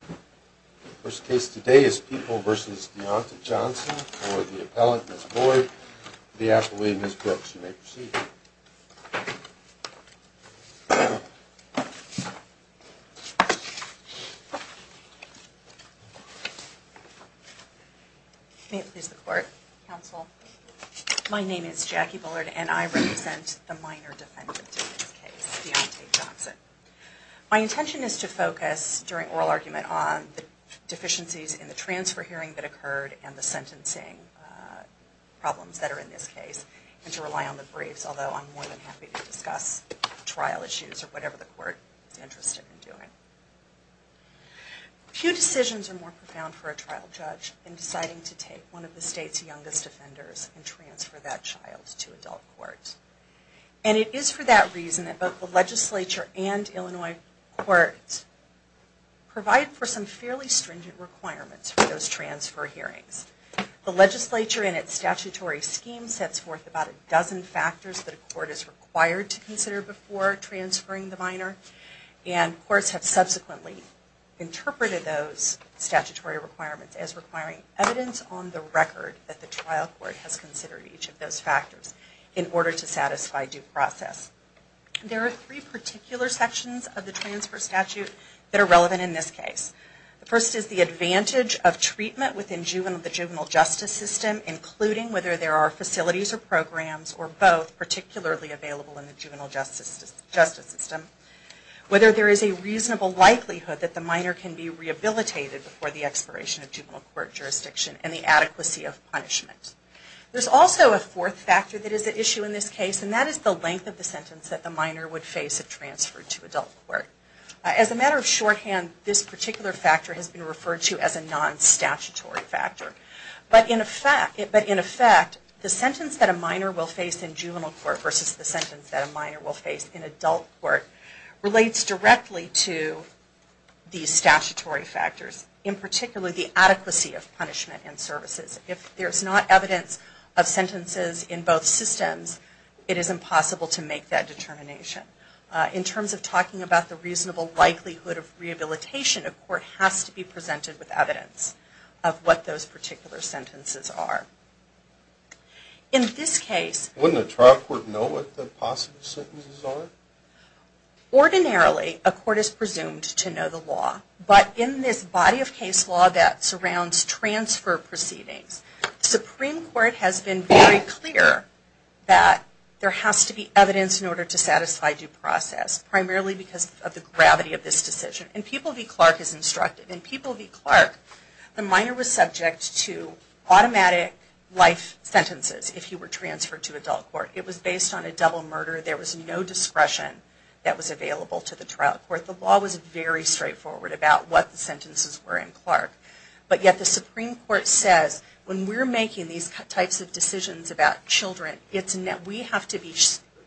The first case today is People v. Deontay Johnson for the appellant, Ms. Boyd v. Ms. Brooks. You may proceed. May it please the Court, Counsel. My name is Jackie Bullard and I represent the minor defendant in this case, Deontay Johnson. My intention is to focus, during oral argument, on the deficiencies in the transfer hearing that occurred and the sentencing problems that are in this case, and to rely on the briefs, although I'm more than happy to discuss trial issues or whatever the Court is interested in doing. Few decisions are more profound for a trial judge than deciding to take one of the state's youngest offenders and transfer that child to adult court. And it is for that reason that both the legislature and Illinois courts provide for some fairly stringent requirements for those transfer hearings. The legislature in its statutory scheme sets forth about a dozen factors that a court is required to consider before transferring the minor, and courts have subsequently interpreted those statutory requirements as requiring evidence on the record that the trial court has considered each of those factors in order to satisfy due process. There are three particular sections of the transfer statute that are relevant in this case. The first is the advantage of treatment within the juvenile justice system, including whether there are facilities or programs, or both, particularly available in the juvenile justice system. Whether there is a reasonable likelihood that the minor can be rehabilitated before the expiration of juvenile court jurisdiction, and the adequacy of punishment. There is also a fourth factor that is an issue in this case, and that is the length of the sentence that the minor would face if transferred to adult court. As a matter of shorthand, this particular factor has been referred to as a non-statutory factor. But in effect, the sentence that a minor will face in juvenile court versus the sentence that a minor will face in adult court relates directly to these statutory factors, in particular the adequacy of punishment and services. If there is not evidence of sentences in both systems, it is impossible to make that determination. In terms of talking about the reasonable likelihood of rehabilitation, a court has to be presented with evidence of what those particular sentences are. In this case, wouldn't a trial court know what the possible sentences are? Ordinarily, a court is presumed to know the law. But in this body of case law that surrounds transfer proceedings, the Supreme Court has been very clear that there has to be evidence in order to satisfy due process, primarily because of the gravity of this decision. And People v. Clark is instructive. In People v. Clark, the minor was subject to automatic life sentences if he were transferred to adult court. It was based on a double murder. There was no discretion that was available to the trial court. The law was very straightforward about what the sentences were in Clark. But yet the Supreme Court says, when we're making these types of decisions about children, we have to be,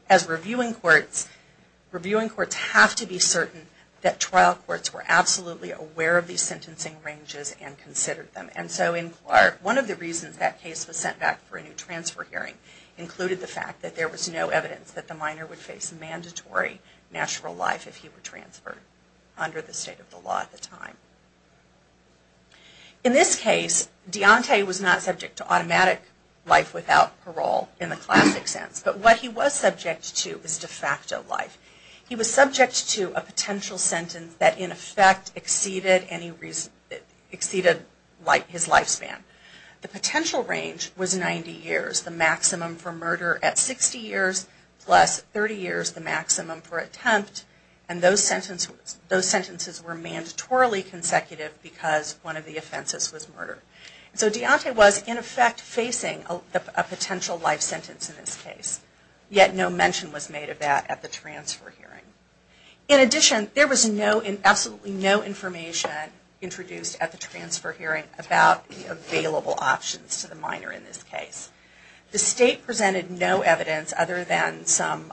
as reviewing courts, have to be certain that trial courts were absolutely aware of these sentencing ranges and considered them. And so in Clark, one of the reasons that case was sent back for a new transfer hearing included the fact that there was no evidence that the minor would face mandatory natural life if he were transferred under the state of the law at the time. In this case, Deontay was not subject to automatic life without parole in the classic sense. But what he was subject to was de facto life. He was subject to a potential sentence that in effect exceeded his lifespan. The potential range was 90 years. The maximum for murder at 60 years plus 30 years, the maximum for attempt. And those sentences were mandatorily consecutive because one of the offenses was murder. So Deontay was in effect facing a potential life sentence in this case. Yet no mention was made of that at the transfer hearing. In addition, there was absolutely no information introduced at the transfer hearing about the available options to the minor in this case. The state presented no evidence other than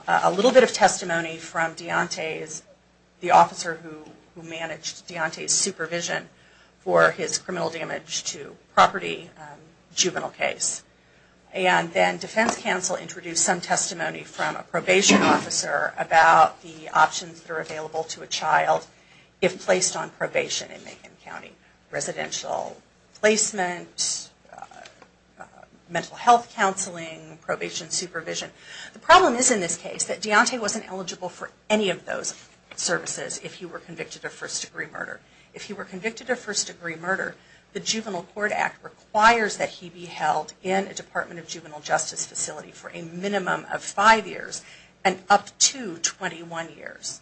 a little bit of testimony from Deontay's, the officer who managed Deontay's supervision for his criminal damage to property juvenile case. And then defense counsel introduced some testimony from a probation officer about the options that are available to a child if placed on probation in Macon County. Residential placement, mental health counseling, probation supervision. The problem is in this case that Deontay wasn't eligible for any of those services if he were convicted of first degree murder. If he were convicted of first degree murder, the Juvenile Court Act requires that he be held in a Department of Juvenile Justice facility for a minimum of five years and up to 21 years.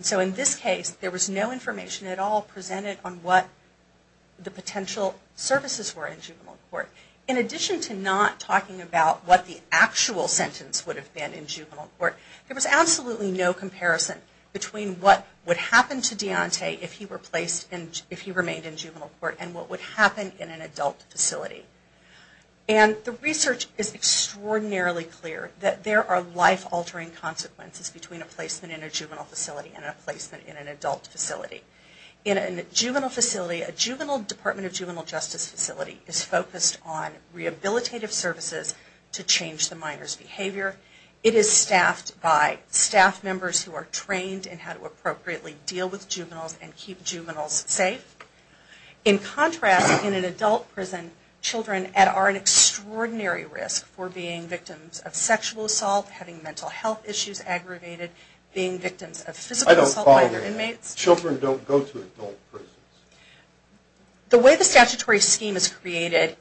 So in this case there was no information at all presented on what the potential services were in juvenile court. In addition to not talking about what the actual sentence would have been in juvenile court, there was absolutely no comparison between what would happen to Deontay if he remained in juvenile court and what would happen in an adult facility. And the research is extraordinarily clear that there are life-altering consequences between a placement in a juvenile facility and a placement in an adult facility. In a juvenile facility, a Juvenile Department of Juvenile Justice facility is focused on rehabilitative services to change the minor's behavior. It is staffed by staff members who are trained in how to appropriately deal with juveniles and keep juveniles safe. In contrast, in an adult prison, children are at an extraordinary risk for being victims of sexual assault, having mental health issues aggravated, being victims of physical assault by their inmates. Children don't go to adult prisons. The way the statutory scheme is created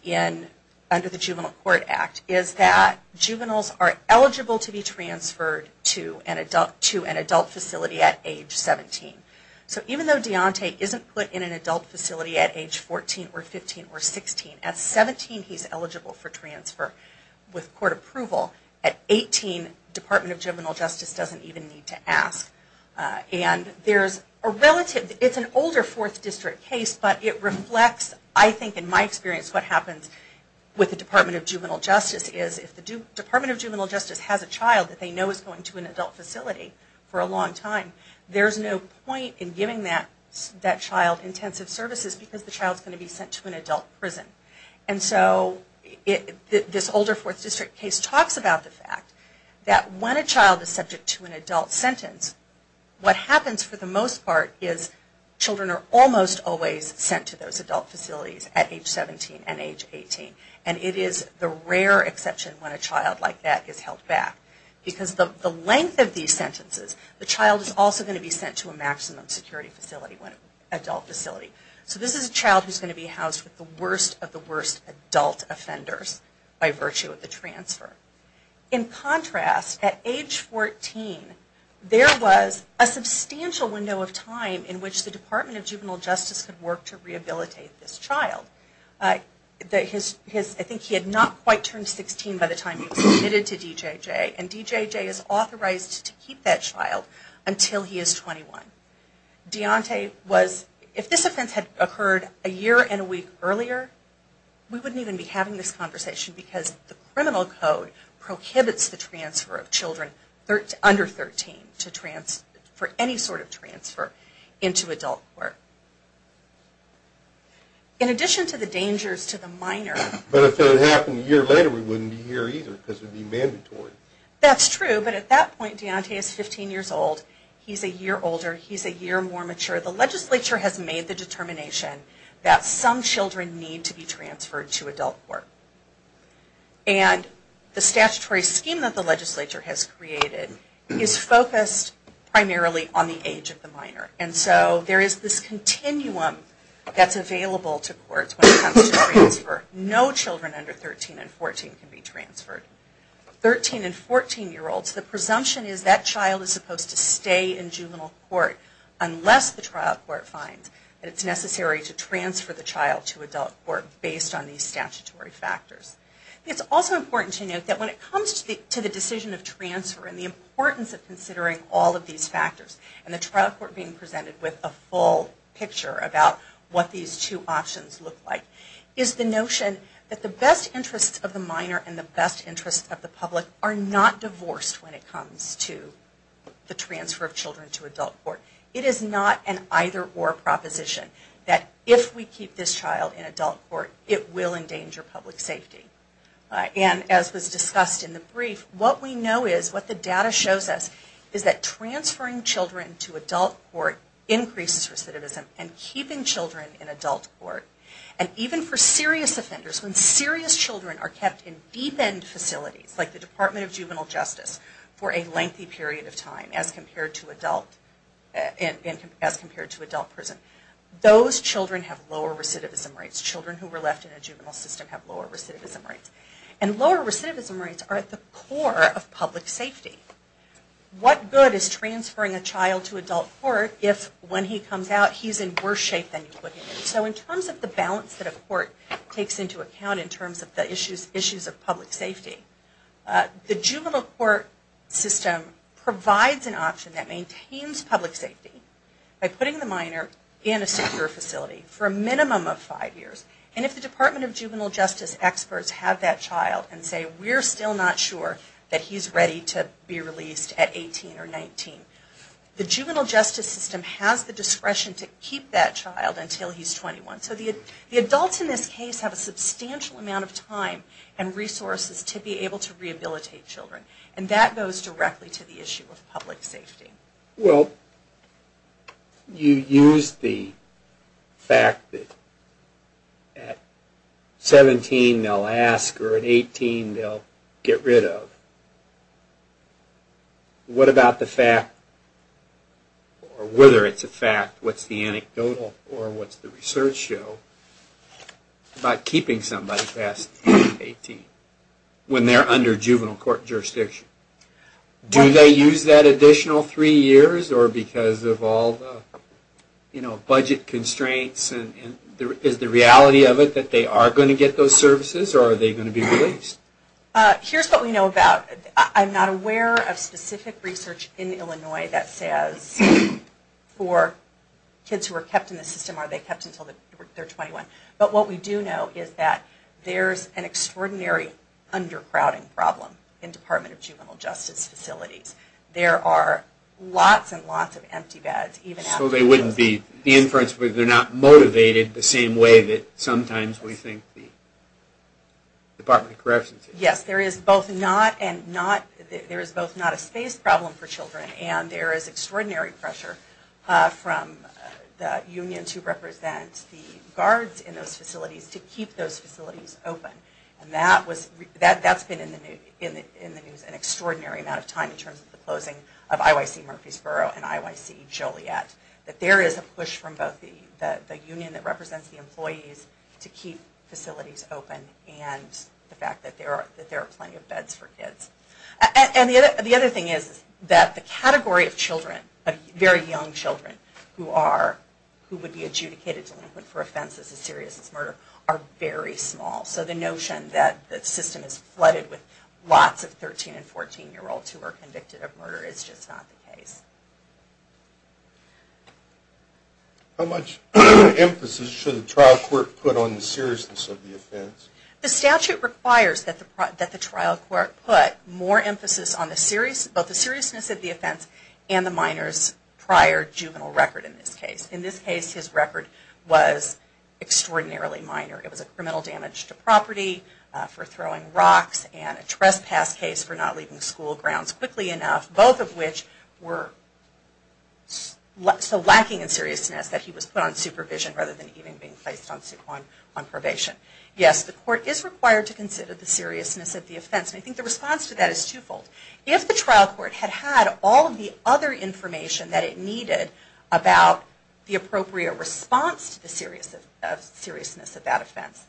under the Juvenile Court Act is that juveniles are eligible to be transferred to an adult facility at age 17. So even though Deontay isn't put in an adult facility at age 14 or 15 or 16, at 17 he's eligible for transfer with court approval. At 18, Department of Juvenile Justice doesn't even need to ask. And there's a relative, it's an older Fourth District case, but it reflects, I think in my experience, what happens with the Department of Juvenile Justice is if the Department of Juvenile Justice has a child that they know is going to an adult facility for a long time, there's no point in giving that child intensive services because the child is going to be sent to an adult prison. And so this older Fourth District case talks about the fact that when a child is subject to an adult sentence, what happens for the most part is children are almost always sent to those adult facilities at age 17 and age 18. And it is the rare exception when a child like that is held back. Because the length of these sentences, the child is also going to be sent to a maximum security facility, an adult facility. So this is a child who's going to be housed with the worst of the worst adult offenders by virtue of the transfer. In contrast, at age 14, there was a substantial window of time in which the Department of Juvenile Justice could work to rehabilitate this child. I think he had not quite turned 16 by the time he was admitted to DJJ, and DJJ is authorized to keep that child until he is 21. Deontay was, if this offense had occurred a year and a week earlier, we wouldn't even be having this conversation because the criminal code prohibits the transfer of children under 13 for any sort of transfer into adult court. In addition to the dangers to the minor... But if it happened a year later, we wouldn't be here either because it would be mandatory. That's true, but at that point, Deontay is 15 years old. He's a year older. He's a year more mature. The legislature has made the determination that some children need to be transferred to adult court. And the statutory scheme that the legislature has created is focused primarily on the age of the minor. And so there is this continuum that's available to courts when it comes to transfer. No children under 13 and 14 can be transferred. 13 and 14 year olds, the presumption is that child is supposed to stay in juvenile court unless the trial court finds that it's necessary to transfer the child to adult court based on these statutory factors. It's also important to note that when it comes to the decision of transfer and the importance of considering all of these factors and the trial court being presented with a full picture about what these two options look like, is the notion that the best interests of the minor and the best interests of the public are not divorced when it comes to the transfer of children to adult court. It is not an either-or proposition that if we keep this child in adult court, it will endanger public safety. And as was discussed in the brief, what we know is, what the data shows us, is that transferring children to adult court increases recidivism and keeping children in adult court. And even for serious offenders, when serious children are kept in deep-end facilities, like the Department of Juvenile Justice, for a lengthy period of time as compared to adult prison, those children have lower recidivism rates. Children who were left in a juvenile system have lower recidivism rates. And lower recidivism rates are at the core of public safety. What good is transferring a child to adult court if when he comes out he's in worse shape than you put him in? So in terms of the balance that a court takes into account in terms of the issues of public safety, the juvenile court system provides an option that maintains public safety by putting the minor in a secure facility for a minimum of five years. And if the Department of Juvenile Justice experts have that child and say, we're still not sure that he's ready to be released at 18 or 19, the juvenile justice system has the discretion to keep that child until he's 21. So the adults in this case have a substantial amount of time and resources to be able to rehabilitate children. And that goes directly to the issue of public safety. Well, you use the fact that at 17 they'll ask or at 18 they'll get rid of. What about the fact or whether it's a fact, what's the anecdotal or what's the research show about keeping somebody past 18 when they're under juvenile court jurisdiction? Do they use that additional three years or because of all the budget constraints? Is the reality of it that they are going to get those services or are they going to be released? Here's what we know about. I'm not aware of specific research in Illinois that says for kids who are kept in the system, are they kept until they're 21? But what we do know is that there's an extraordinary undercrowding problem in Department of Juvenile Justice facilities. There are lots and lots of empty beds. So they wouldn't be, the inference would be they're not motivated the same way that sometimes we think the Department of Corrections is. Yes, there is both not a space problem for children and there is extraordinary pressure from the union to represent the guards in those facilities to keep those facilities open. And that's been in the news an extraordinary amount of time in terms of the closing of IYC Murfreesboro and IYC Joliet. That there is a push from both the union that represents the employees to keep facilities open and the fact that there are plenty of beds for kids. And the other thing is that the category of children, very young children, who would be adjudicated delinquent for offenses as serious as murder are very small. So the notion that the system is flooded with lots of 13 and 14 year olds who are convicted of murder is just not the case. How much emphasis should the trial court put on the seriousness of the offense? The statute requires that the trial court put more emphasis on both the seriousness of the offense and the minor's prior juvenile record in this case. In this case his record was extraordinarily minor. It was a criminal damage to property, for throwing rocks, and a trespass case for not leaving school grounds quickly enough. Both of which were so lacking in seriousness that he was put on supervision rather than even being placed on probation. Yes, the court is required to consider the seriousness of the offense. I think the response to that is twofold. If the trial court had had all of the other information that it needed about the appropriate response to the seriousness of that offense,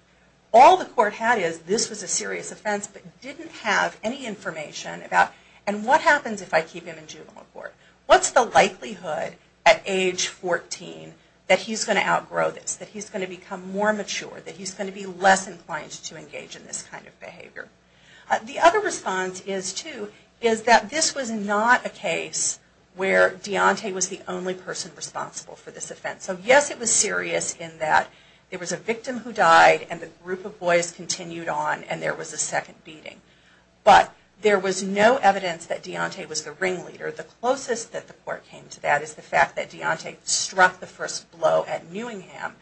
all the court had is this was a serious offense but didn't have any information about and what happens if I keep him in juvenile court? What's the likelihood at age 14 that he's going to outgrow this? That he's going to become more mature? That he's going to be less inclined to engage in this kind of behavior? The other response is too, is that this was not a case where Deontay was the only person responsible for this offense. So yes, it was serious in that it was a victim who died and the group of boys continued on and there was a second beating. But there was no evidence that Deontay was the ringleader. The closest that the court came to that is the fact that Deontay struck the first blow at Newingham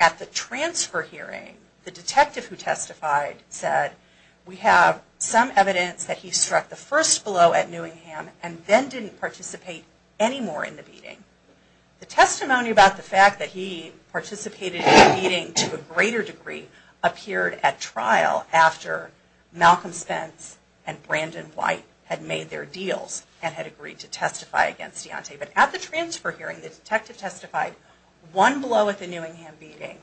at the transfer hearing. The detective who testified said, we have some evidence that he struck the first blow at Newingham and then didn't participate anymore in the beating. The testimony about the fact that he participated in the beating to a greater degree appeared at trial after Malcolm Spence and Brandon White had made their deals and had agreed to testify against Deontay. But at the transfer hearing the detective testified one blow at the Newingham beating.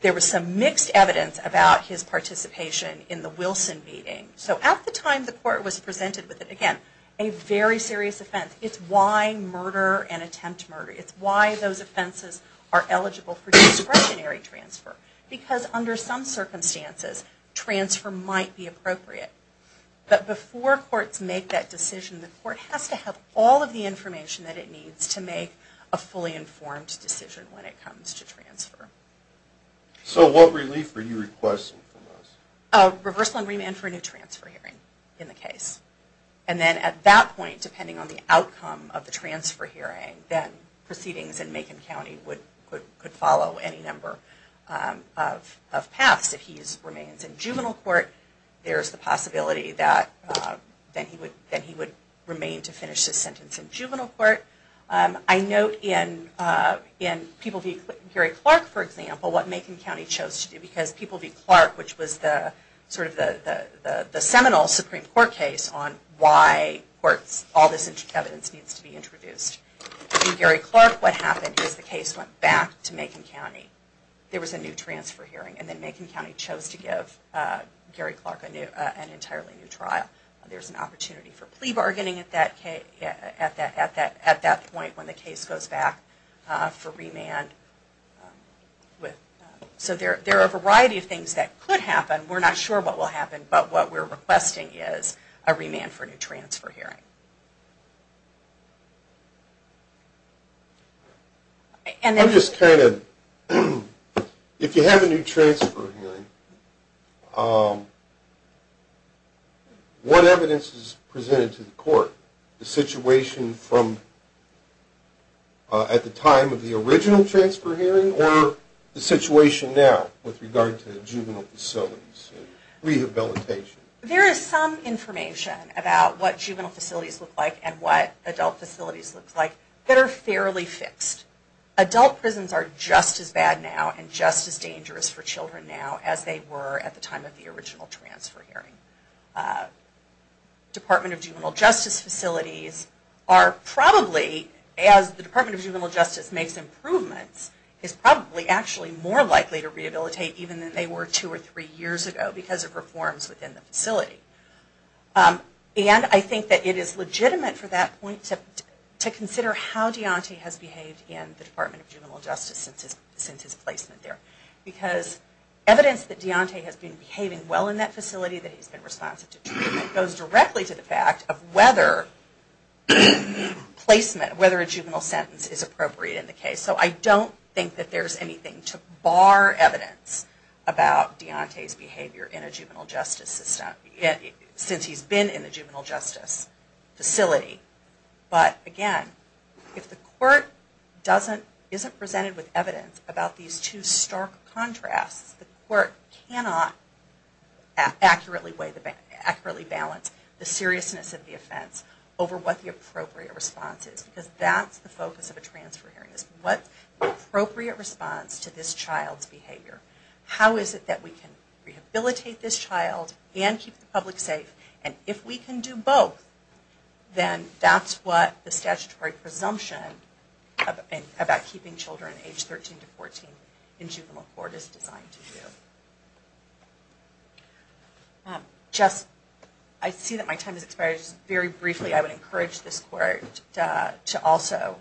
There was some mixed evidence about his participation in the Wilson beating. So at the time the court was presented with, again, a very serious offense. It's why murder and attempt murder, it's why those offenses are eligible for discretionary transfer. Because under some circumstances, transfer might be appropriate. But before courts make that decision, the court has to have all of the information that it needs to make a fully informed decision when it comes to transfer. So what relief were you requesting from us? A reversal and remand for a new transfer hearing in the case. And then at that point, depending on the outcome of the transfer hearing, then proceedings in Macon County could follow any number of paths if he remains in juvenile court. There's the possibility that he would remain to finish his sentence in juvenile court. I note in People v. Clark, for example, what Macon County chose to do. Because People v. Clark, which was the seminal Supreme Court case on why all this evidence needs to be introduced. In Gary Clark, what happened is the case went back to Macon County. There was a new transfer hearing and then Macon County chose to give Gary Clark an entirely new trial. There's an opportunity for plea bargaining at that point when the case goes back for remand. So there are a variety of things that could happen. We're not sure what will happen, but what we're requesting is a remand for a new transfer hearing. I'm just kind of, if you have a new transfer hearing, what evidence is presented to the court? The situation from at the time of the original transfer hearing or the situation now with regard to juvenile facilities and rehabilitation? There is some information about what juvenile facilities look like and what adult facilities look like that are fairly fixed. Adult prisons are just as bad now and just as dangerous for children now as they were at the time of the original transfer hearing. Department of Juvenile Justice facilities are probably, as the Department of Juvenile Justice makes improvements, is probably actually more likely to rehabilitate even than they were two or three years ago because of reforms within the facility. And I think that it is legitimate for that point to consider how Deontay has behaved in the Department of Juvenile Justice since his placement there. Because evidence that Deontay has been behaving well in that facility, that he's been responsive to treatment, goes directly to the fact of whether placement, whether a juvenile sentence is appropriate in the case. So I don't think that there's anything to bar evidence about Deontay's behavior in a juvenile justice system since he's been in a juvenile justice facility. But again, if the court isn't presented with evidence about these two stark contrasts, the court cannot accurately balance the seriousness of the offense over what the appropriate response is. Because that's the focus of a transfer hearing. What's the appropriate response to this child's behavior? How is it that we can rehabilitate this child and keep the public safe? And if we can do both, then that's what the statutory presumption about keeping children age 13 to 14 in juvenile court is designed to do. I see that my time has expired. Just very briefly, I would encourage this court to also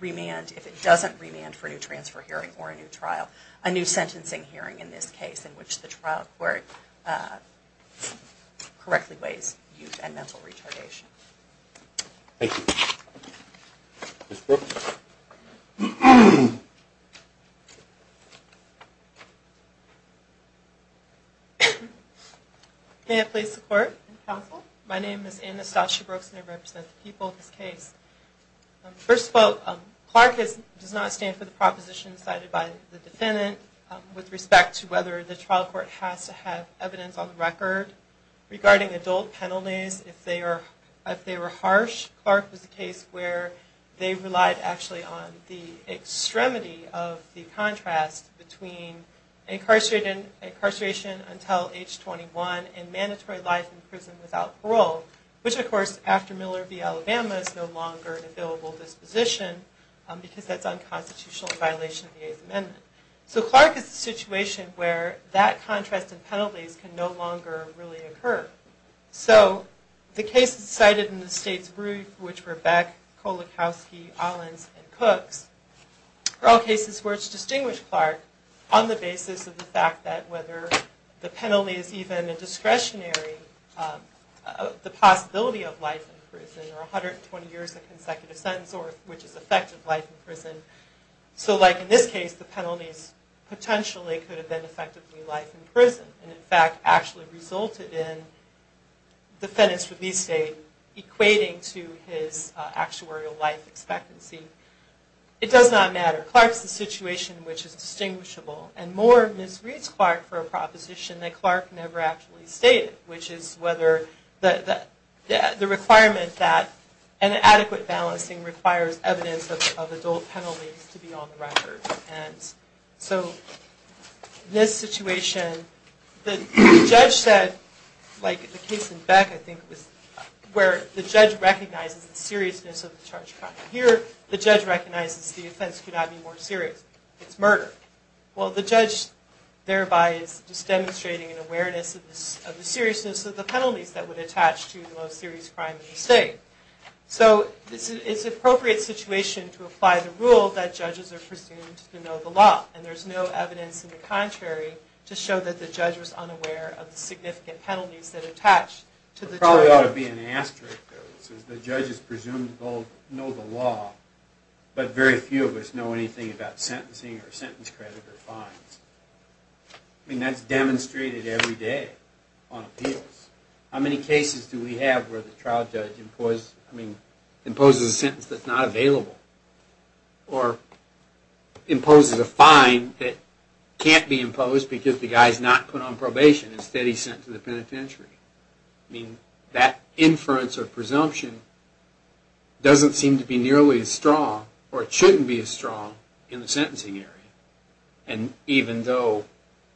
remand, if it doesn't remand for a new transfer hearing or a new trial, a new sentencing hearing in this case, in which the trial court correctly weighs youth and mental retardation. Thank you. Ms. Brooks? May I please support, counsel? My name is Anastasia Brooks, and I represent the people of this case. First of all, Clark does not stand for the proposition decided by the defendant with respect to whether the trial court has to have evidence on the record regarding adult penalties. If they were harsh, Clark was a case where they relied, actually, on the extremity of the contrast between incarceration until age 21 and mandatory life in prison without parole, which, of course, after Miller v. Alabama, is no longer an available disposition because that's unconstitutional in violation of the Eighth Amendment. So Clark is a situation where that contrast in penalties can no longer really occur. So the cases cited in the state's brief, which were Beck, Kolakowski, Ollins, and Cooks, are all cases where it's distinguished Clark on the basis of the fact that whether the penalty is even a discretionary, the possibility of life in prison, or 120 years of consecutive sentence, which is effective life in prison. So like in this case, the penalties potentially could have been effectively life in prison and, in fact, actually resulted in the defendant's release date equating to his actuarial life expectancy. It does not matter. Clark's a situation which is distinguishable. And more misreads Clark for a proposition that Clark never actually stated, which is whether the requirement that an adequate balancing requires evidence of adult penalties to be on the record. So in this situation, the judge said, like the case in Beck, I think, where the judge recognizes the seriousness of the charged crime. Here, the judge recognizes the offense could not be more serious. It's murder. Well, the judge thereby is just demonstrating an awareness of the seriousness of the penalties that would attach to the most serious crime in the state. So it's an appropriate situation to apply the rule that judges are presumed to know the law. And there's no evidence in the contrary to show that the judge was unaware of the significant penalties that attach to the charge. There probably ought to be an asterisk, though. The judge is presumed to know the law, but very few of us know anything about sentencing or sentence credit or fines. I mean, that's demonstrated every day on appeals. How many cases do we have where the trial judge imposes a sentence that's not available or imposes a fine that can't be imposed because the guy is not put on probation? Instead, he's sent to the penitentiary. I mean, that inference or presumption doesn't seem to be nearly as strong or it shouldn't be as strong in the sentencing area. And even though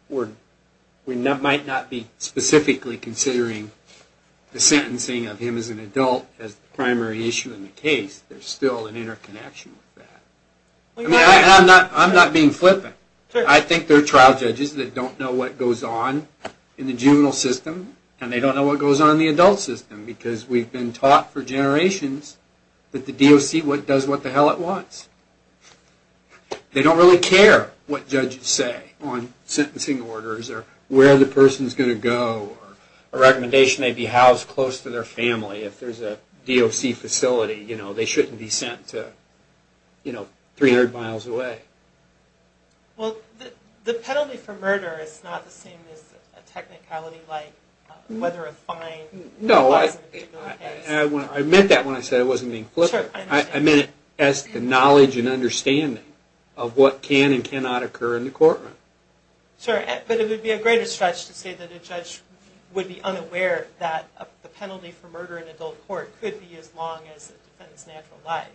we might not be specifically considering the sentencing of him as an adult as the primary issue in the case, there's still an interconnection with that. I mean, I'm not being flippant. I think there are trial judges that don't know what goes on in the juvenile system and they don't know what goes on in the adult system because we've been taught for generations that the DOC does what the hell it wants. They don't really care what judges say on sentencing orders or where the person is going to go or a recommendation may be housed close to their family. If there's a DOC facility, you know, they shouldn't be sent to, you know, 300 miles away. Well, the penalty for murder is not the same as a technicality like whether a fine was imposed. No, I meant that when I said I wasn't being flippant. I meant it as the knowledge and understanding of what can and cannot occur in the courtroom. Sure, but it would be a greater stretch to say that a judge would be unaware that the penalty for murder in adult court could be as long as a defendant's natural life.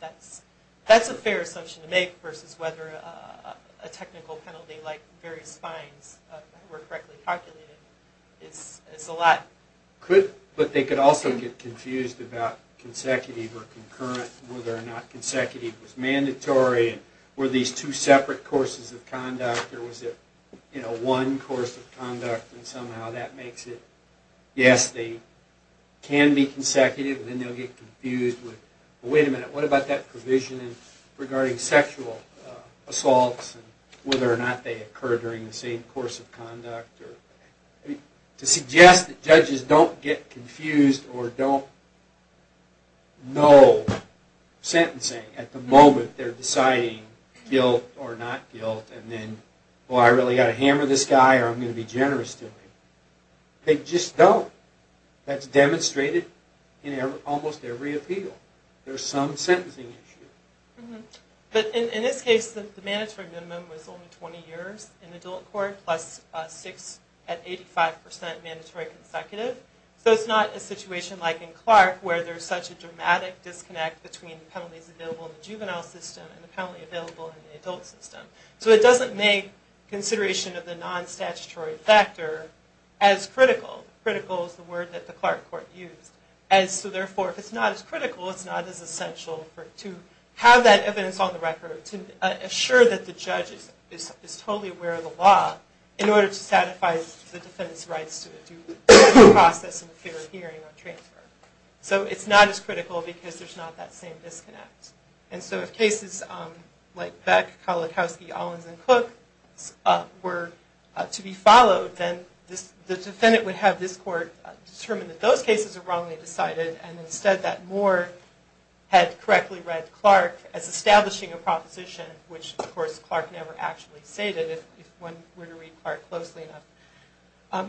That's a fair assumption to make versus whether a technical penalty like various fines were correctly calculated. It's a lot. But they could also get confused about consecutive or concurrent and whether or not consecutive was mandatory and were these two separate courses of conduct or was it, you know, one course of conduct and somehow that makes it, yes, they can be consecutive and then they'll get confused with, well, wait a minute, what about that provision regarding sexual assaults and whether or not they occur during the same course of conduct? To suggest that judges don't get confused or don't know sentencing at the moment they're deciding guilt or not guilt and then, well, I really got to hammer this guy or I'm going to be generous to him. They just don't. That's demonstrated in almost every appeal. There's some sentencing issue. But in this case, the mandatory minimum was only 20 years in adult court plus six at 85% mandatory consecutive. So it's not a situation like in Clark where there's such a dramatic disconnect between the penalties available in the juvenile system and the penalty available in the adult system. So it doesn't make consideration of the non-statutory factor as critical. Critical is the word that the Clark court used. So, therefore, if it's not as critical, it's not as essential to have that in order to satisfy the defendant's rights to a due process and a fair hearing or transfer. So it's not as critical because there's not that same disconnect. And so if cases like Beck, Kalikowski, Owens, and Cook were to be followed, then the defendant would have this court determine that those cases are wrongly decided and instead that Moore had correctly read Clark as establishing a fair hearing.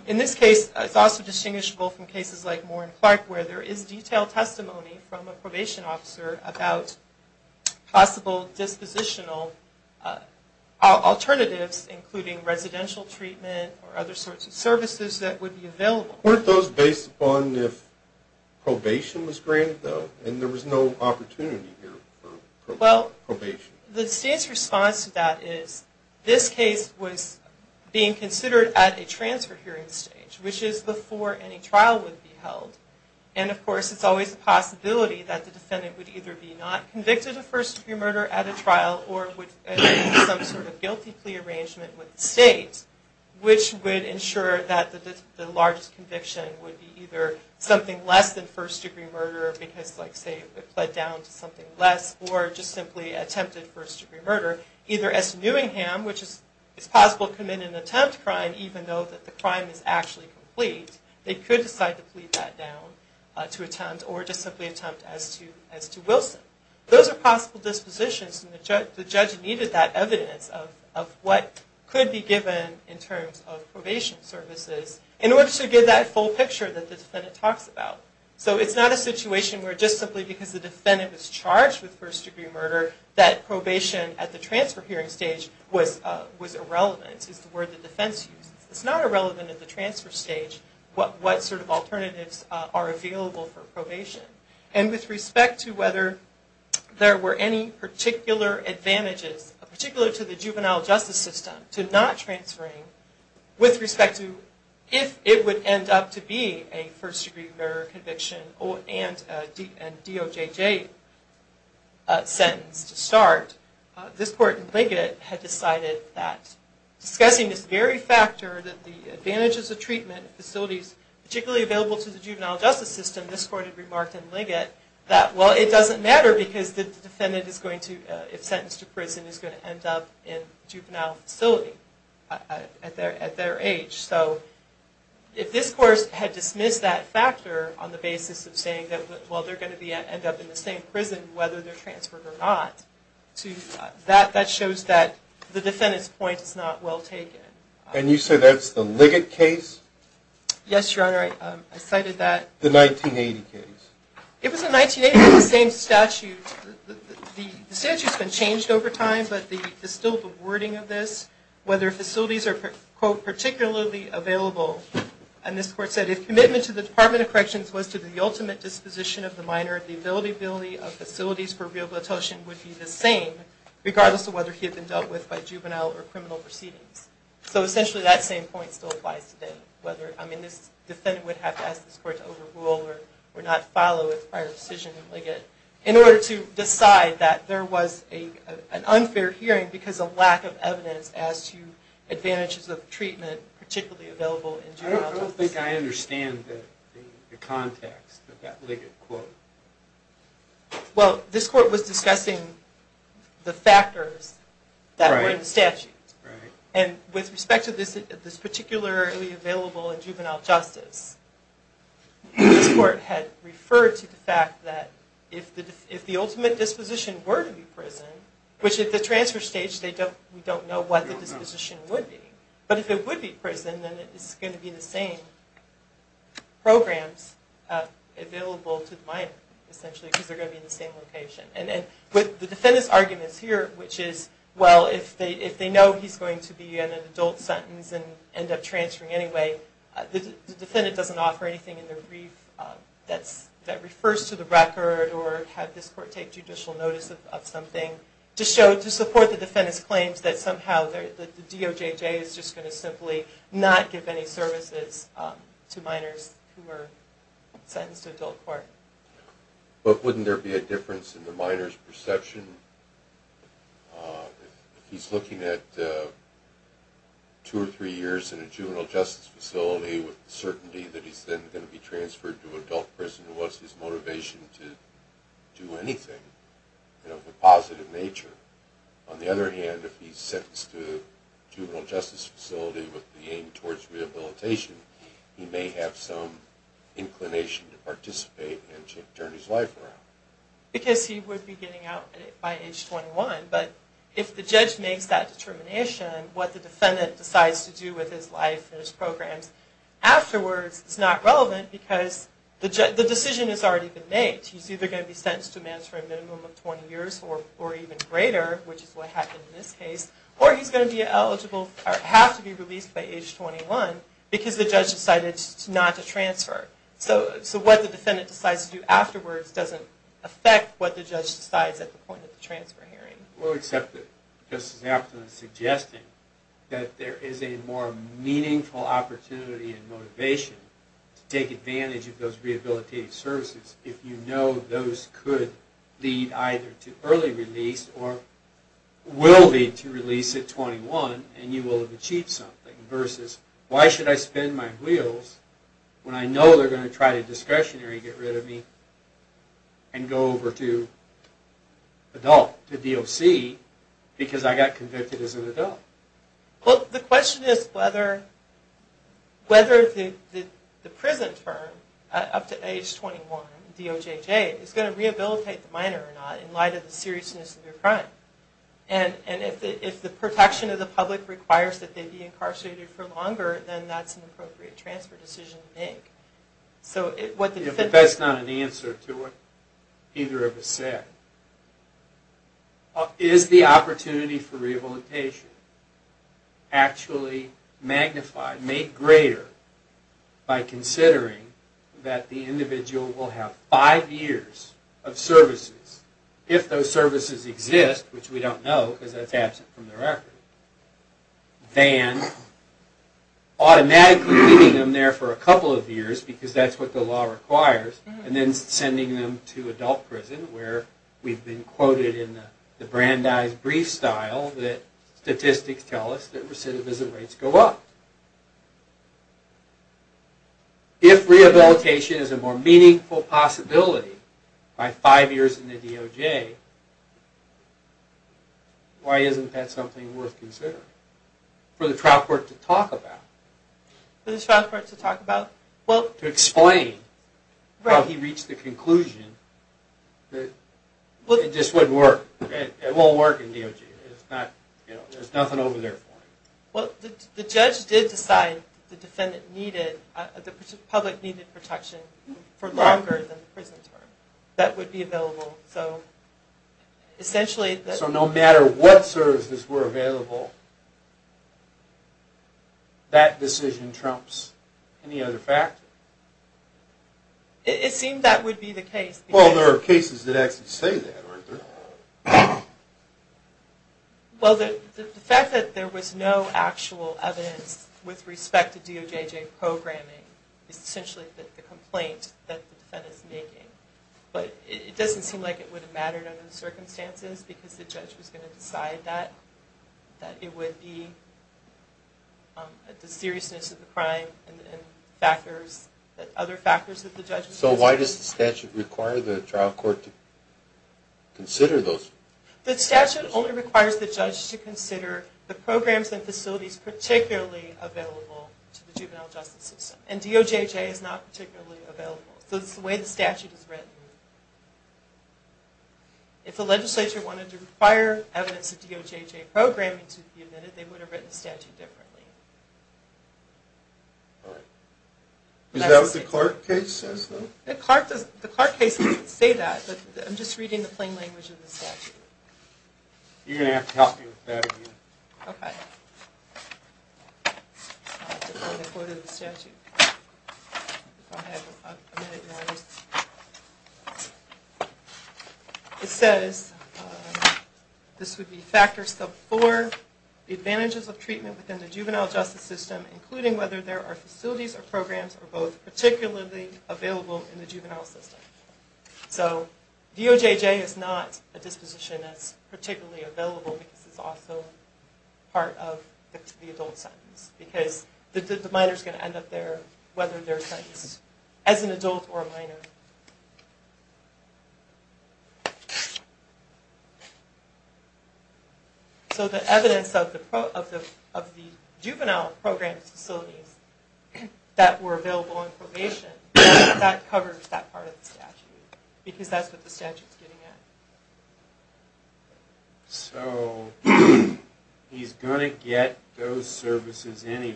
In this case, it's also distinguishable from cases like Moore and Clark where there is detailed testimony from a probation officer about possible dispositional alternatives, including residential treatment or other sorts of services that would be available. Weren't those based upon if probation was granted, though? And there was no opportunity here for probation. The state's response to that is this case was being considered at a transfer hearing stage, which is before any trial would be held. And, of course, it's always a possibility that the defendant would either be not convicted of first-degree murder at a trial or would have some sort of guilty plea arrangement with the state, which would ensure that the largest conviction would be either something less than first-degree murder because, like, say, it pled down to something less or just simply attempted first-degree murder. Either S. Newingham, which is possible to commit an attempt crime even though that the crime is actually complete, they could decide to plead that down to attempt or just simply attempt as to Wilson. Those are possible dispositions, and the judge needed that evidence of what could be given in terms of probation services in order to get that full picture that the defendant talks about. So it's not a situation where just simply because the defendant was charged with first-degree murder that probation at the transfer hearing stage was irrelevant, is the word the defense used. It's not irrelevant at the transfer stage what sort of alternatives are available for probation. And with respect to whether there were any particular advantages, particularly to the juvenile justice system, to not transferring with respect to if it would end up to be a first-degree murder conviction and DOJJ sentence to start, this court in Liggett had decided that discussing this very factor that the advantages of treatment facilities particularly available to the juvenile justice system, this court had remarked in Liggett that, well, it doesn't matter because the defendant is going to, if sentenced to prison, is going to end up in a juvenile facility at their age. So if this court had dismissed that factor on the basis of saying that, well, they're going to end up in the same prison whether they're transferred or not, that shows that the defendant's point is not well taken. And you say that's the Liggett case? Yes, Your Honor. I cited that. The 1980 case. It was the 1980 case, the same statute. The statute's been changed over time, but there's still the wording of this, whether facilities are, quote, particularly available. And this court said, if commitment to the Department of Corrections was to the ultimate disposition of the minor, the availability of facilities for real bluetotion would be the same regardless of whether he had been dealt with by juvenile or criminal proceedings. So essentially that same point still applies today. I mean, this defendant would have to ask this court to overrule or not follow its prior decision in Liggett in order to decide that there was an unfair hearing because of lack of evidence as to advantages of treatment particularly available in juvenile justice. I don't think I understand the context of that Liggett quote. Well, this court was discussing the factors that were in the statute. Right. And with respect to this particularly available in juvenile justice, this court had referred to the fact that if the ultimate disposition were to be prison, which at the transfer stage we don't know what the disposition would be, but if it would be prison, then it's going to be the same programs available to the minor, essentially, because they're going to be in the same location. And with the defendant's arguments here, which is, well, if they know he's going to be in an adult sentence and end up transferring anyway, the defendant doesn't offer anything in the brief that refers to the record or have this court take judicial notice of something to support the defendant's claims that somehow the DOJJ is just going to simply not give any services to minors who are sentenced to adult court. But wouldn't there be a difference in the minor's perception if he's looking at two or three years in a juvenile justice facility with the certainty that he's then going to be transferred to adult prison? What's his motivation to do anything? You know, the positive nature. On the other hand, if he's sentenced to a juvenile justice facility with the aim towards rehabilitation, he may have some inclination to participate and to turn his life around. Because he would be getting out by age 21. But if the judge makes that determination, what the defendant decides to do with his life and his programs afterwards is not relevant because the decision has already been made. He's either going to be sentenced to a minimum of 20 years or even greater, which is what happened in this case, or he's going to have to be released by age 21 because the judge decided not to transfer. So what the defendant decides to do afterwards doesn't affect what the judge decides at the point of the transfer hearing. We'll accept it. Justice Afton is suggesting that there is a more meaningful opportunity and motivation to take advantage of those rehabilitative services if you know those could lead either to early release or will lead to release at 21 and you will have achieved something. Versus, why should I spin my wheels when I know they're going to try to discretionary get rid of me and go over to adult, to DOC, because I got convicted as an adult? Well, the question is whether the prison term up to age 21, DOJJ, is going to rehabilitate the minor or not in light of the seriousness of your crime. And if the protection of the public requires that they be incarcerated for longer, then that's an appropriate transfer decision to make. But that's not an answer to what either of us said. Is the opportunity for rehabilitation actually magnified, made greater, by considering that the individual will have five years of services if those are released, which we don't know because that's absent from the record, than automatically leaving them there for a couple of years because that's what the law requires and then sending them to adult prison where we've been quoted in the Brandeis brief style that statistics tell us that recidivism rates go up. If rehabilitation is a more meaningful possibility by five years in the DOJ, why isn't that something worth considering for the trial court to talk about? For the trial court to talk about? To explain how he reached the conclusion that it just wouldn't work. It won't work in DOJ. There's nothing over there for him. Well, the judge did decide the public needed protection for longer than the prison term. That would be available. So no matter what services were available, that decision trumps any other factor? It seemed that would be the case. Well, there are cases that actually say that, aren't there? Well, the fact that there was no actual evidence with respect to DOJ programming is essentially the complaint that the defendant is making. But it doesn't seem like it would have mattered under the circumstances because the judge was going to decide that, that it would be the seriousness of the crime and other factors that the judge was going to decide. So why does the statute require the trial court to consider those? The statute only requires the judge to consider the programs and facilities particularly available to the juvenile justice system. And DOJJ is not particularly available. So it's the way the statute is written. If the legislature wanted to require evidence of DOJJ programming to be admitted, they would have written the statute differently. All right. Is that what the Clark case says, though? The Clark case doesn't say that. I'm just reading the plain language of the statute. You're going to have to help me with that again. Okay. I'll have to go to the court of the statute. I'll have a minute to write this. It says this would be factor sub four, the advantages of treatment within the juvenile justice system, including whether there are facilities or programs or both, particularly available in the juvenile system. So DOJJ is not a disposition that's particularly available because it's also part of the adult sentence because the minor is going to end up there whether they're sentenced as an adult or a minor. Okay. So the evidence of the juvenile programs facilities that were available in probation, that covers that part of the statute because that's what the statute's getting at. So he's going to get those services anyway,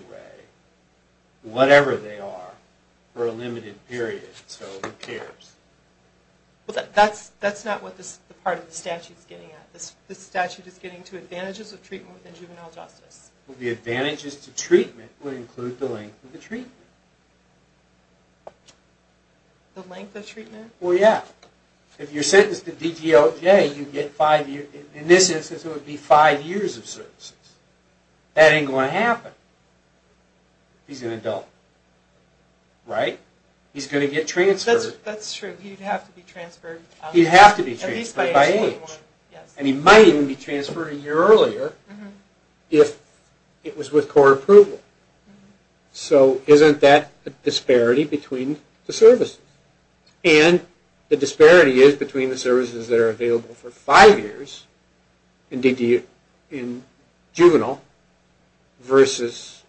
whatever they are, for a limited period, so who cares? That's not what part of the statute's getting at. The statute is getting to advantages of treatment within juvenile justice. The advantages to treatment would include the length of the treatment. The length of treatment? Well, yeah. If you're sentenced to DGOJ, you get five years. In this instance, it would be five years of services. That ain't going to happen. He's an adult, right? He's going to get transferred. That's true. He'd have to be transferred. He'd have to be transferred by age. And he might even be transferred a year earlier if it was with court approval. So isn't that a disparity between the services? And the disparity is between the services that are available for five years in juvenile versus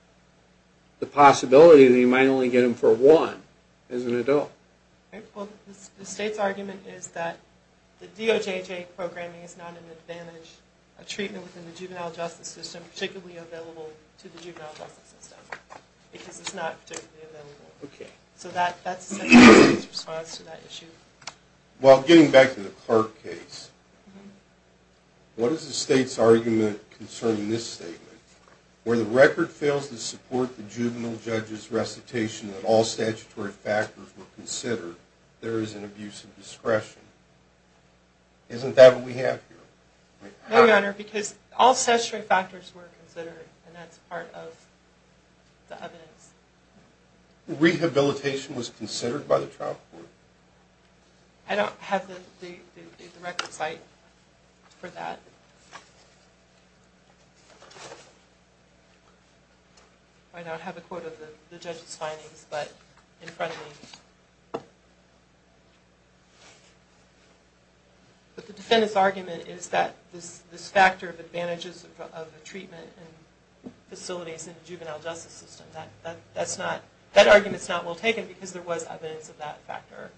the possibility that you might only get them for one as an adult. Well, the state's argument is that the DOJJ programming is not an advantage of treatment within the juvenile justice system, particularly available to the juvenile justice system because it's not particularly available. So that's essentially the state's response to that issue. Well, getting back to the Clark case, what is the state's argument concerning this statement? Where the record fails to support the juvenile judge's recitation that all statutory factors were considered, there is an abuse of discretion. Isn't that what we have here? No, Your Honor, because all statutory factors were considered, and that's part of the evidence. Rehabilitation was considered by the trial court. I don't have the record site for that. I don't have a quote of the judge's findings, but in front of me. But the defendant's argument is that this factor of advantages of the treatment in facilities in the juvenile justice system, that argument's not well taken because there was evidence of that factor,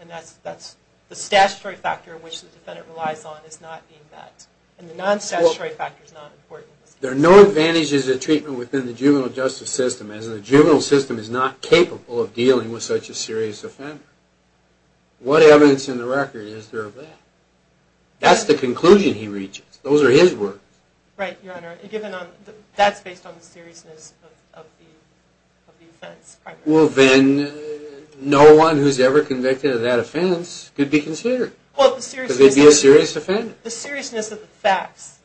and that's the statutory factor which the defendant relies on is not being met, and the non-statutory factor is not important. There are no advantages of treatment within the juvenile justice system, as the juvenile system is not capable of dealing with such a serious offender. What evidence in the record is there of that? That's the conclusion he reaches. Those are his words. Right, Your Honor. That's based on the seriousness of the offense primarily. Well, then no one who's ever convicted of that offense could be considered because they'd be a serious offender. The seriousness of the facts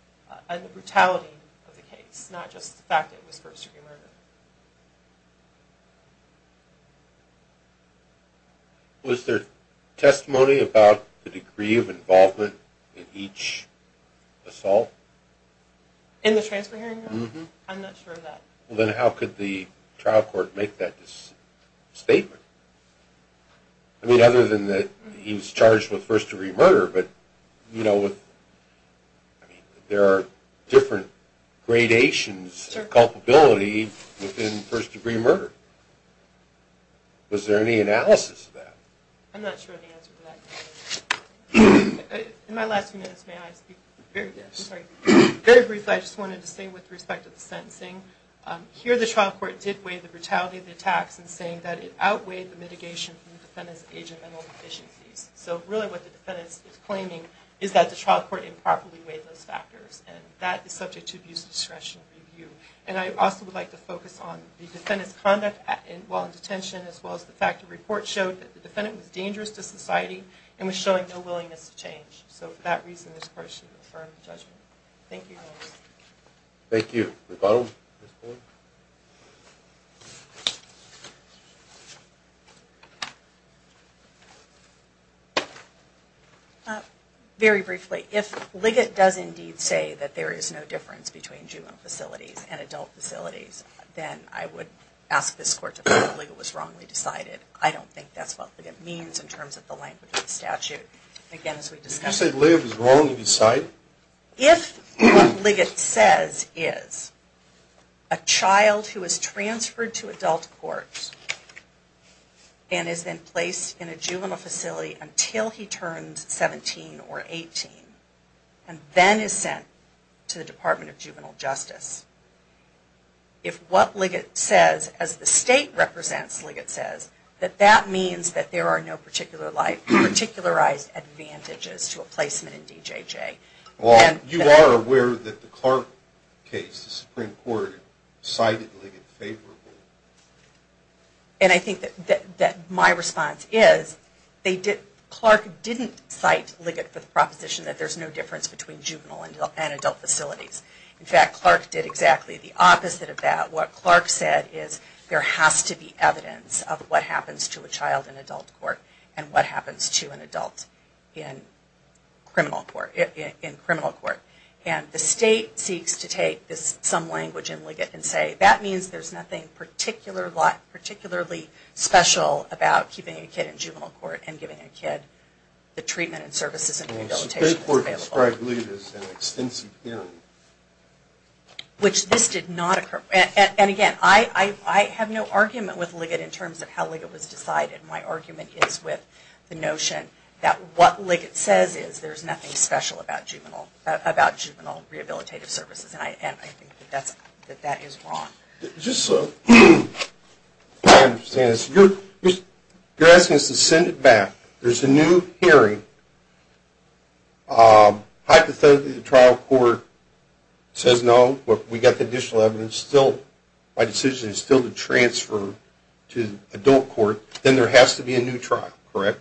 and the brutality of the case, not just the fact that it was first-degree murder. Was there testimony about the degree of involvement in each assault? In the transfer hearing? Mm-hmm. I'm not sure of that. Well, then how could the trial court make that statement? I mean, other than that he was charged with first-degree murder, but, you know, there are different gradations of culpability within first-degree murder. Was there any analysis of that? I'm not sure of the answer to that. In my last few minutes, may I speak? Very briefly, I just wanted to say with respect to the sentencing, here the trial court did weigh the brutality of the attacks in saying that it outweighed the mitigation from the defendant's age and mental deficiencies. So really what the defendant is claiming is that the trial court improperly weighed those factors, and that is subject to abuse discretionary review. And I also would like to focus on the defendant's conduct while in detention as well as the fact the report showed that the defendant was dangerous to society and was showing no willingness to change. So for that reason, this court should affirm the judgment. Thank you. Thank you. The bottom, Ms. Boyle? Very briefly, if Liggett does indeed say that there is no difference between juvenile facilities and adult facilities, then I would ask this court to prove Liggett was wrongly decided. I don't think that's what Liggett means in terms of the language of the statute. Again, as we discussed. Did you say Liggett was wrongly decided? If what Liggett says is a child who is transferred to adult court and is then placed in a juvenile facility until he turns 17 or 18 and then is sent to the Department of Juvenile Justice, if what Liggett says, as the state represents Liggett says, that that means that there are no particularized advantages to a placement in DJJ. You are aware that the Clark case, the Supreme Court, cited Liggett favorably. And I think that my response is Clark didn't cite Liggett for the proposition that there's no difference between juvenile and adult facilities. In fact, Clark did exactly the opposite of that. What Clark said is there has to be evidence of what happens to a child in adult court and what happens to an adult in criminal court. And the state seeks to take some language in Liggett and say, that means there's nothing particularly special about keeping a kid in juvenile court and giving a kid the treatment and services and rehabilitation that's available. The Supreme Court described Liggett as an extensive penalty. Which this did not occur. And again, I have no argument with Liggett in terms of how Liggett was decided. My argument is with the notion that what Liggett says is there's nothing special about juvenile rehabilitative services. And I think that that is wrong. Just so I understand this. You're asking us to send it back. There's a new hearing. Hypothetically the trial court says no. We got the additional evidence. My decision is still to transfer to adult court. Then there has to be a new trial, correct?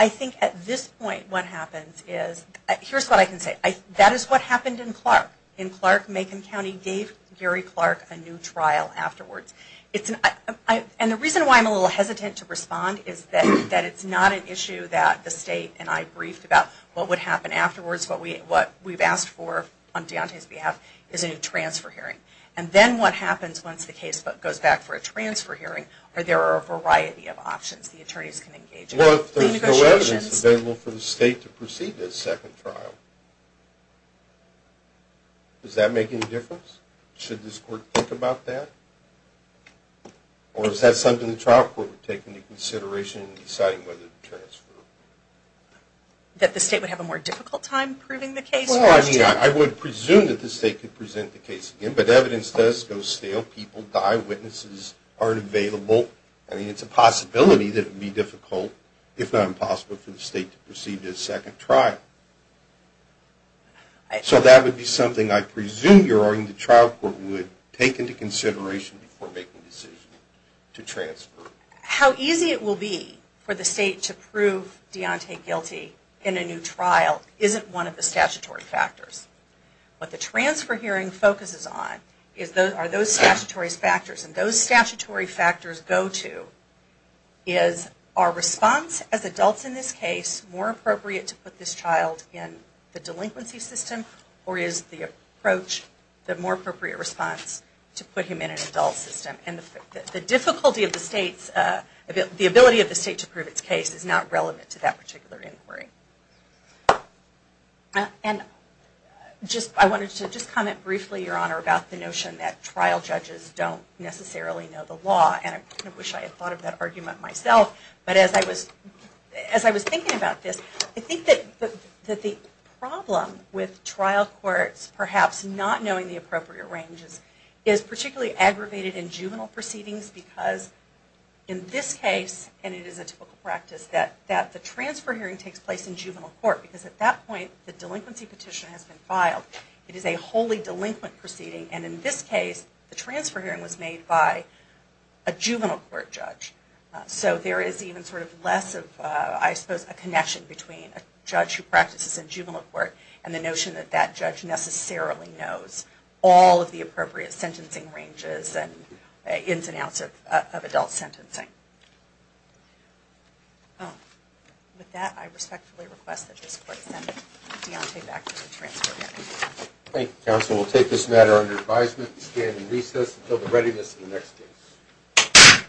I think at this point what happens is, here's what I can say. That is what happened in Clark. In Clark, Macon County gave Gary Clark a new trial afterwards. And the reason why I'm a little hesitant to respond is that it's not an issue that the state and I briefed about what would happen afterwards, what we've asked for on Deontay's behalf is a new transfer hearing. And then what happens once the case goes back for a transfer hearing, there are a variety of options the attorneys can engage in. Well, if there's no evidence available for the state to proceed to a second trial, does that make any difference? Should this court think about that? Or is that something the trial court would take into consideration in deciding whether to transfer? That the state would have a more difficult time proving the case? Well, I mean, I would presume that the state could present the case again. But evidence does go stale. People die. Witnesses aren't available. I mean, it's a possibility that it would be difficult, if not impossible, for the state to proceed to a second trial. So that would be something I presume you're arguing the trial court would take into consideration before making a decision to transfer. How easy it will be for the state to prove Deontay guilty in a new trial isn't one of the statutory factors. What the transfer hearing focuses on are those statutory factors. And those statutory factors go to, is our response as adults in this case more appropriate to put this child in the delinquency system? Or is the approach the more appropriate response to put him in an adult system? And the difficulty of the state's, the ability of the state to prove its case is not relevant to that particular inquiry. And I wanted to just comment briefly, Your Honor, about the notion that trial judges don't necessarily know the law. And I wish I had thought of that argument myself. But as I was thinking about this, I think that the problem with trial courts perhaps not knowing the appropriate ranges is particularly aggravated in juvenile proceedings. Because in this case, and it is a typical practice, that the transfer hearing takes place in juvenile court. Because at that point, the delinquency petition has been filed. It is a wholly delinquent proceeding. And in this case, the transfer hearing was made by a juvenile court judge. So there is even sort of less of, I suppose, a connection between a judge who practices in juvenile court and the notion that that judge necessarily knows all of the appropriate sentencing ranges and ins and outs of adult sentencing. With that, I respectfully request that this Court send Deontay back to the transfer hearing. Thank you, Counsel. We'll take this matter under advisement. We stand in recess until the readiness of the next case.